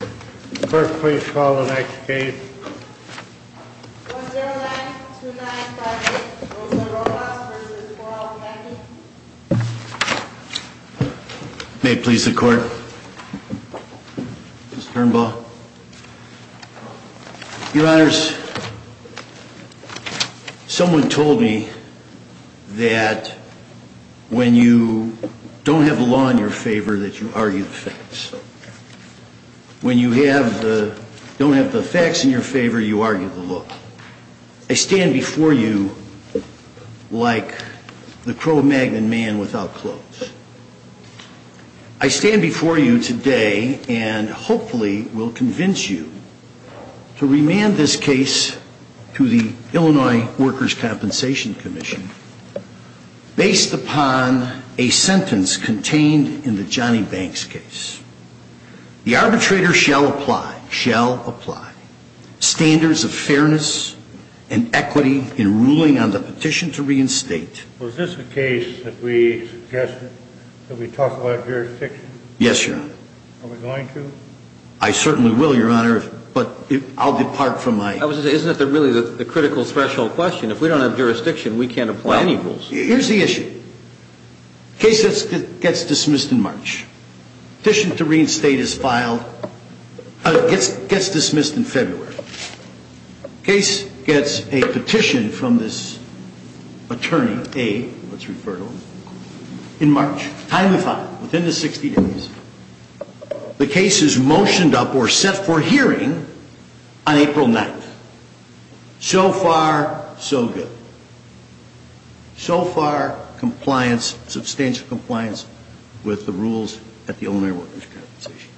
May it please the court. Mr. Urnbaugh. Your Honors, someone told me that when you don't have a law in your favor that you argue the facts. I stand before you today and hopefully will convince you to remand this case to the Illinois Workers' Compensation Commission based upon a sentence contained in the Johnny Banks case. The arbitrator shall apply standards of fairness and equity in ruling on the petition to reinstate. Was this a case that we suggested that we talk about jurisdiction? Yes, Your Honor. Are we going to? I certainly will, Your Honor, but I'll depart from my... I was going to say, isn't that really the critical threshold question? If we don't have jurisdiction, we can't apply any rules. Here's the issue. Case gets dismissed in March. Petition to reinstate is filed, gets dismissed in February. Case gets a petition from this attorney, A, let's refer to him, in March. Timely filing. Within the 60 days, the case is motioned up or set for hearing on April 9th. So far, so good. So far, compliance, substantial compliance with the rules at the Illinois Workers' Compensation Commission.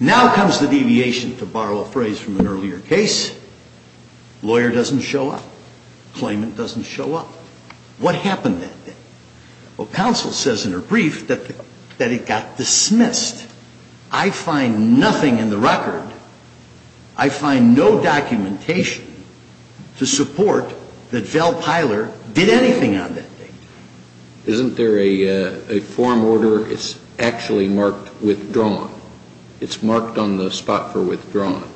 Now comes the deviation, to borrow a phrase from an earlier case. Lawyer doesn't show up. Claimant doesn't show up. What happened that day? Well, counsel says in her brief that it got dismissed. I find nothing in the record. I find no documentation to support that Val Piler did anything on that day. Isn't there a form order that's actually marked withdrawn? It's marked on the spot for withdrawn.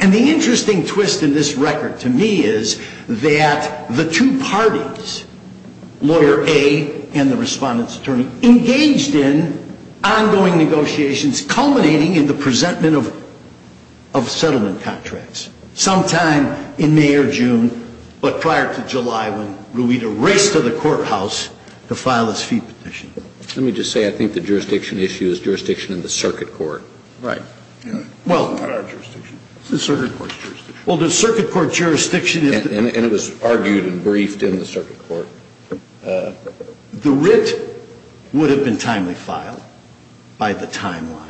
And the interesting twist in this record to me is that the two parties, Lawyer A and the Respondent's attorney, engaged in ongoing negotiations culminating in the presentment of settlement contracts, sometime in May or June, but prior to July when Ruida raced to the courthouse to file this fee petition. Let me just say, I think the jurisdiction issue is jurisdiction in the circuit court. Right. Well. It's not our jurisdiction. It's the circuit court's jurisdiction. Well, the circuit court jurisdiction is. And it was argued and briefed in the circuit court. The writ would have been timely filed by the timeline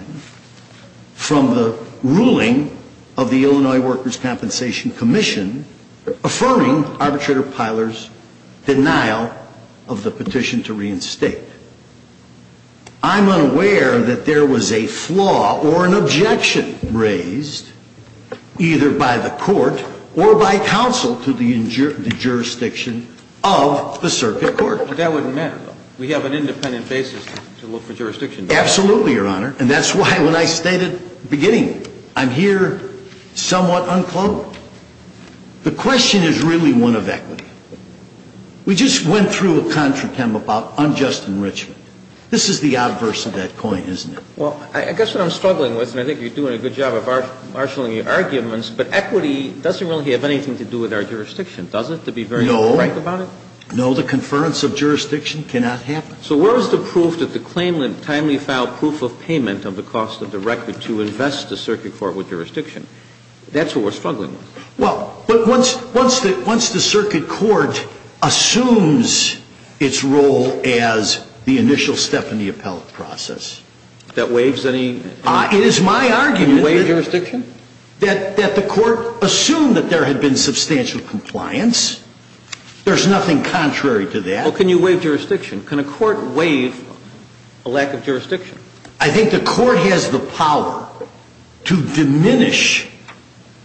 from the ruling of the Illinois Workers' Compensation Commission affirming Arbitrator Piler's denial of the petition to reinstate. I'm unaware that there was a flaw or an objection raised either by the court or by counsel to the jurisdiction of the circuit court. But that wouldn't matter. We have an independent basis to look for jurisdiction. Absolutely, Your Honor. And that's why when I stated at the beginning, I'm here somewhat unclothed, the question is really one of equity. We just went through a contritem about unjust enrichment. This is the adverse of that point, isn't it? Well, I guess what I'm struggling with, and I think you're doing a good job of marshaling your arguments, but equity doesn't really have anything to do with our jurisdiction, does it, to be very frank about it? No. No, the conference of jurisdiction cannot happen. So where is the proof that the claimant timely filed proof of payment of the cost of the record to invest the circuit court with jurisdiction? That's what we're struggling with. Well, but once the circuit court assumes its role as the initial step in the appellate process. That waives any? It is my argument that the court assumed that there had been substantial compliance. There's nothing contrary to that. Well, can you waive jurisdiction? Can a court waive a lack of jurisdiction? I think the court has the power to diminish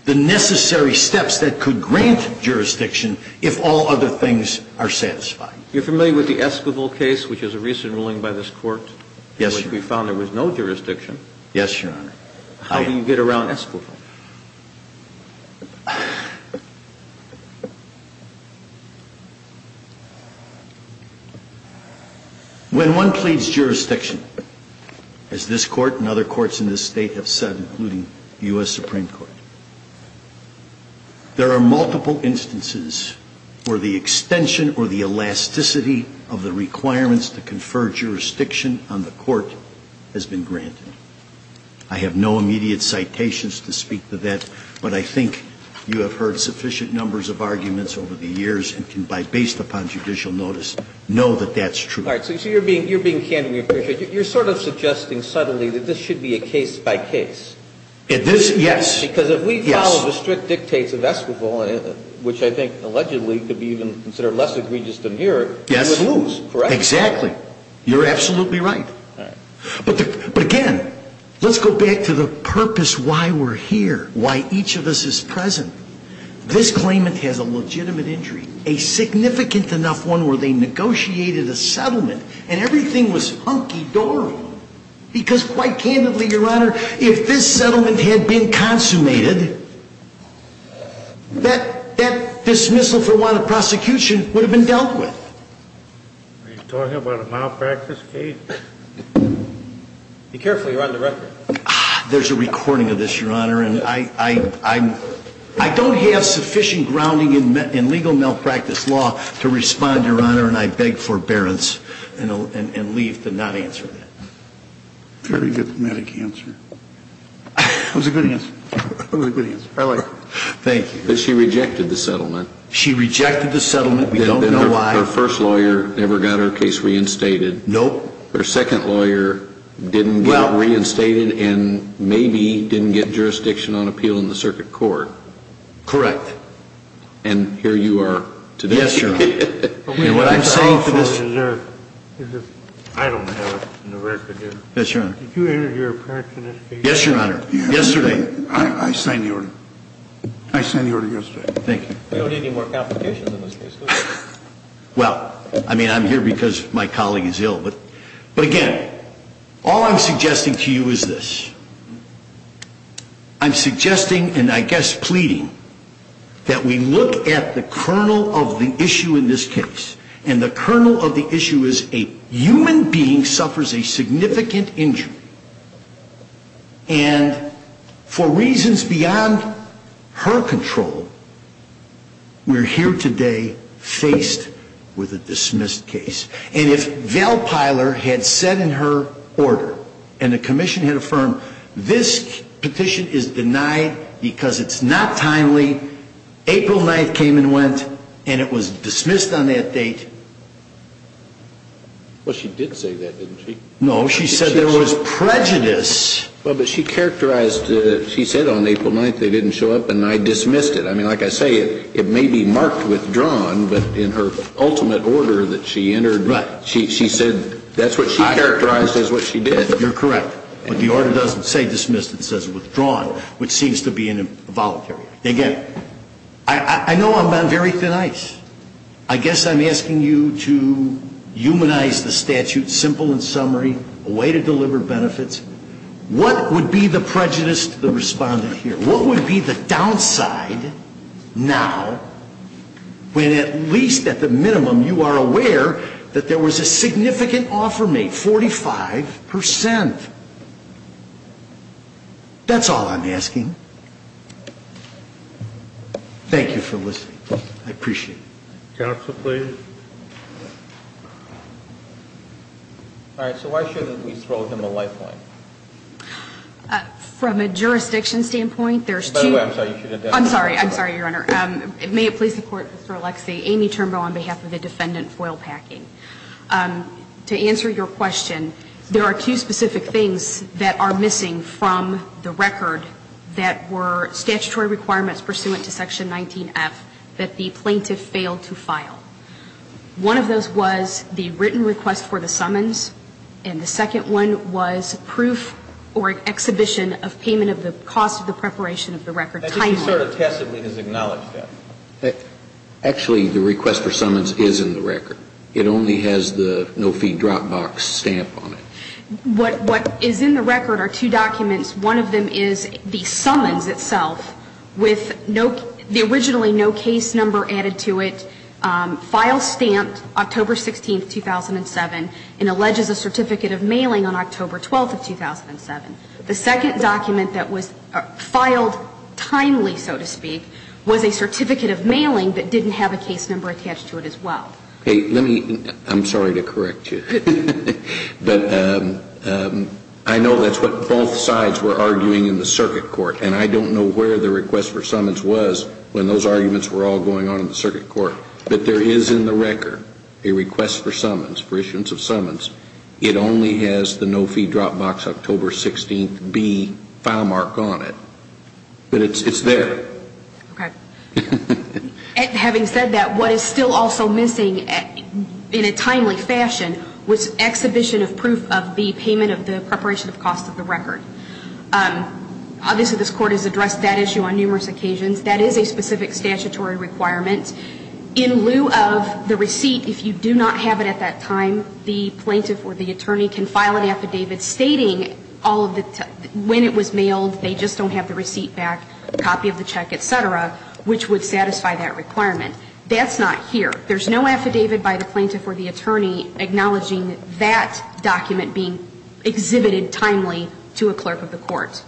the necessary steps that could grant jurisdiction if all other things are satisfied. You're familiar with the Esquivel case, which is a recent ruling by this court? Yes, Your Honor. We found there was no jurisdiction. Yes, Your Honor. How do you get around Esquivel? When one pleads jurisdiction, as this court and other courts in this state have said, including U.S. Supreme Court, there are multiple instances where the extension or the elasticity of the requirements to confer jurisdiction on the court has been granted. I have no immediate citations to speak to that, but I think you have heard sufficient numbers of arguments over the years and can, based upon judicial notice, know that that's true. All right. So you're being candidly appreciated. You're sort of suggesting subtly that this should be a case-by-case. This, yes. Because if we follow the strict dictates of Esquivel, which I think allegedly could be even considered less egregious than here, we would lose. Yes. Correct? Exactly. You're absolutely right. All right. But again, let's go back to the purpose why we're here, why each of us is present. This claimant has a legitimate injury, a significant enough one where they negotiated a settlement, and everything was hunky-dory. Because quite candidly, Your Honor, if this settlement had been consummated, that dismissal for wanted prosecution would have been dealt with. Are you talking about a malpractice case? Be careful. You're on the record. There's a recording of this, Your Honor. And I don't have sufficient grounding in legal malpractice law to respond, Your Honor, and I beg forbearance and leave to not answer that. Very good thematic answer. It was a good answer. It was a good answer. I like it. Thank you. But she rejected the settlement. She rejected the settlement. We don't know why. Her first lawyer never got her case reinstated. Nope. Her second lawyer didn't get reinstated and maybe didn't get jurisdiction on appeal in the circuit court. Correct. And here you are today. Yes, Your Honor. And what I'm saying to this— I don't have it in the record here. Yes, Your Honor. Did you enter your appearance in this case? Yes, Your Honor. Yesterday. I signed the order. I signed the order yesterday. Thank you. We don't need any more complications in this case, do we? Well, I mean, I'm here because my colleague is ill. But, again, all I'm suggesting to you is this. I'm suggesting and I guess pleading that we look at the kernel of the issue in this case. And the kernel of the issue is a human being suffers a significant injury. And for reasons beyond her control, we're here today faced with a dismissed case. And if Val Piler had said in her order, and the commission had affirmed, this petition is denied because it's not timely, April 9th came and went, and it was dismissed on that date. Well, she did say that, didn't she? No, she said there was prejudice. Well, but she characterized it. She said on April 9th they didn't show up, and I dismissed it. I mean, like I say, it may be marked withdrawn, but in her ultimate order that she entered, she said that's what she characterized as what she did. You're correct. But the order doesn't say dismissed. It says withdrawn, which seems to be involuntary. Again, I know I'm on very thin ice. I guess I'm asking you to humanize the statute simple in summary, a way to deliver benefits. What would be the prejudice to the respondent here? What would be the downside now when at least at the minimum you are aware that there was a significant offer made, 45%? That's all I'm asking. Thank you for listening. I appreciate it. Counsel, please. All right. So why shouldn't we throw him a lifeline? From a jurisdiction standpoint, there's two. I'm sorry. I'm sorry, Your Honor. May it please the Court, Mr. Alexei. Amy Turnbull on behalf of the defendant, foil packing. To answer your question, there are two specific things that are missing from the record that were statutory requirements pursuant to Section 19F that the plaintiff failed to file. One of those was the written request for the summons. And the second one was proof or exhibition of payment of the cost of the preparation of the record timely. That just sort of passively is acknowledged, yes. Actually, the request for summons is in the record. It only has the no fee drop box stamp on it. What is in the record are two documents. One of them is the summons itself with the originally no case number added to it, file stamped October 16, 2007, and alleges a certificate of mailing on October 12, 2007. The second document that was filed timely, so to speak, was a certificate of mailing but didn't have a case number attached to it as well. I'm sorry to correct you. But I know that's what both sides were arguing in the circuit court. And I don't know where the request for summons was when those arguments were all going on in the circuit court. But there is in the record a request for summons, for issuance of summons. It only has the no fee drop box October 16, B, file mark on it. But it's there. Okay. Having said that, what is still also missing in a timely fashion was exhibition of proof of the payment of the preparation of cost of the record. Obviously, this Court has addressed that issue on numerous occasions. That is a specific statutory requirement. In lieu of the receipt, if you do not have it at that time, the plaintiff or the attorney can file an affidavit stating when it was mailed, they just don't have the receipt back, copy of the check, et cetera, which would satisfy that requirement. That's not here. There's no affidavit by the plaintiff or the attorney acknowledging that document being exhibited timely to a clerk of the court.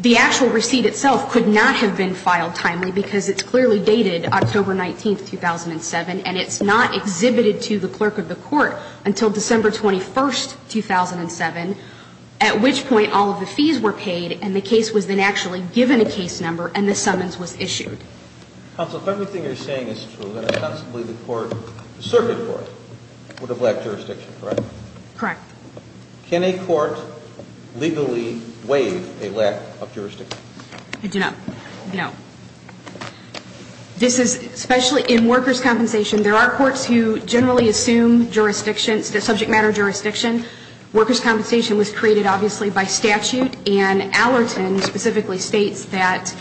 The actual receipt itself could not have been filed timely because it's clearly dated October 19, 2007, and it's not exhibited to the clerk of the court until December 21, 2007, at which point all of the fees were paid and the case was then actually given a case number and the summons was issued. Counsel, if everything you're saying is true, then it's possible the court, the circuit court, would have lacked jurisdiction, correct? Correct. Can a court legally waive a lack of jurisdiction? I do not know. This is especially in workers' compensation. There are courts who generally assume jurisdiction, subject matter jurisdiction. Workers' compensation was created, obviously, by statute, and Allerton specifically states that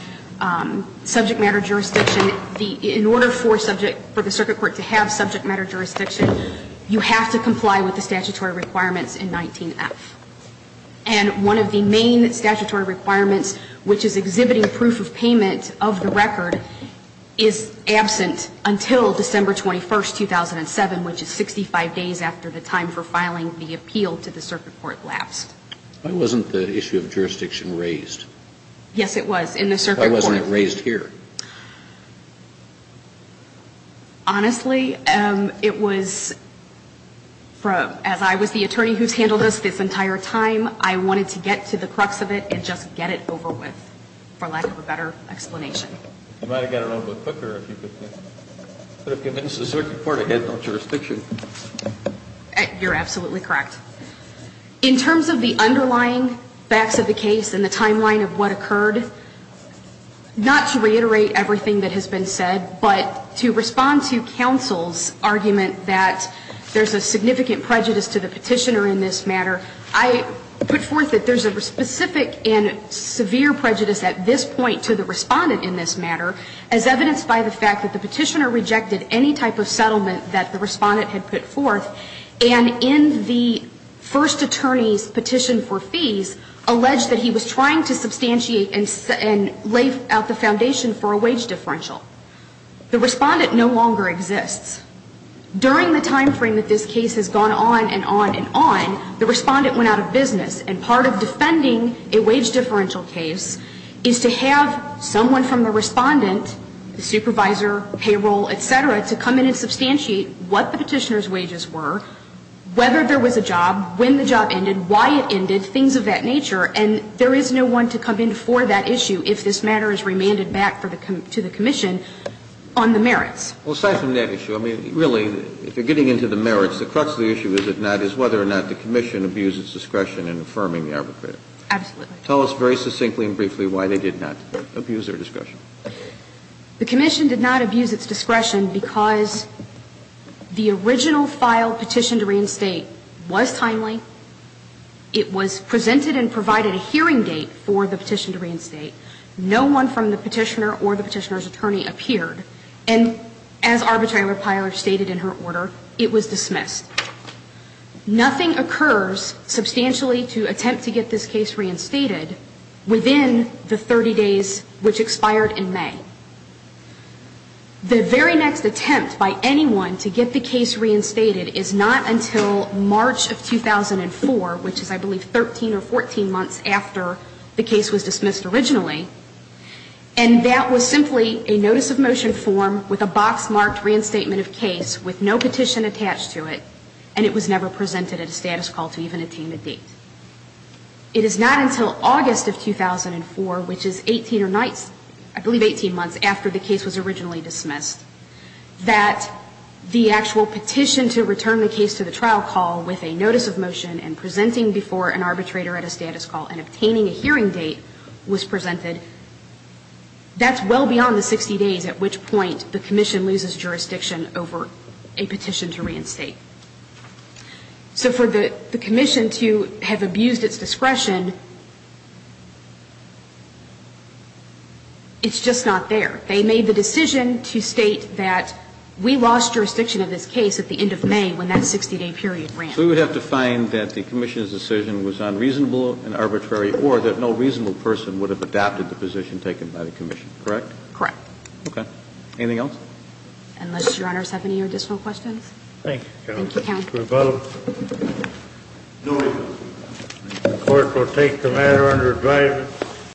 subject matter jurisdiction, in order for the circuit court to have subject matter jurisdiction, you have to comply with the statutory requirements in 19F. And one of the main statutory requirements, which is exhibiting proof of payment of the record, is absent until December 21, 2007, which is 65 days after the time for filing the appeal to the circuit court lapsed. Why wasn't the issue of jurisdiction raised? Yes, it was in the circuit court. Why wasn't it raised here? Honestly, it was, as I was the attorney who's handled this this entire time, I wanted to get to the crux of it and just get it over with, for lack of a better explanation. You might have got it over with quicker if you could have convinced the circuit court to have no jurisdiction. You're absolutely correct. In terms of the underlying facts of the case and the timeline of what occurred, not to reiterate everything that has been said, but to respond to counsel's argument that there's a significant prejudice to the petitioner in this matter, I put forth that there's a specific and severe prejudice at this point to the respondent in this matter as evidenced by the fact that the petitioner rejected any type of settlement that the respondent had put forth and in the first attorney's petition for fees, alleged that he was trying to substantiate and lay out the foundation for a wage differential. The respondent no longer exists. During the time frame that this case has gone on and on and on, the respondent went out of business, and part of defending a wage differential case is to have someone from the respondent, the supervisor, payroll, et cetera, to come in and substantiate what the petitioner's wages were, whether there was a job, when the job ended, why it ended, things of that nature, and there is no one to come in for that issue if this matter is remanded back to the commission on the merits. Well, aside from that issue, I mean, really, if you're getting into the merits, the crux of the issue, is it not, is whether or not the commission abused its discretion in affirming the arbitrator. Absolutely. Tell us very succinctly and briefly why they did not abuse their discretion. The commission did not abuse its discretion because the original file petition to reinstate was timely. It was presented and provided a hearing date for the petition to reinstate. No one from the petitioner or the petitioner's attorney appeared. And as Arbitrary Repiler stated in her order, it was dismissed. Nothing occurs substantially to attempt to get this case reinstated within the 30 days which expired in May. The very next attempt by anyone to get the case reinstated is not until March of 2004, which is, I believe, 13 or 14 months after the case was dismissed originally, and that was simply a notice of motion form with a box-marked reinstatement of case with no petition attached to it, and it was never presented at a status call to even attain a date. It is not until August of 2004, which is 18 or 19, I believe 18 months after the case was originally dismissed, that the actual petition to return the case to the trial call with a notice of motion and presenting before an arbitrator at a status call and obtaining a hearing date was presented. That's well beyond the 60 days at which point the commission loses jurisdiction over a petition to reinstate. So for the commission to have abused its discretion, it's just not there. They made the decision to state that we lost jurisdiction of this case at the end of May when that 60-day period ran. So we would have to find that the commission's decision was unreasonable and arbitrary or that no reasonable person would have adapted the position taken by the commission, correct? Correct. Okay. Anything else? Unless Your Honors have any additional questions. Thank you, Counsel. Thank you, Counsel. The court will take the matter under advisement.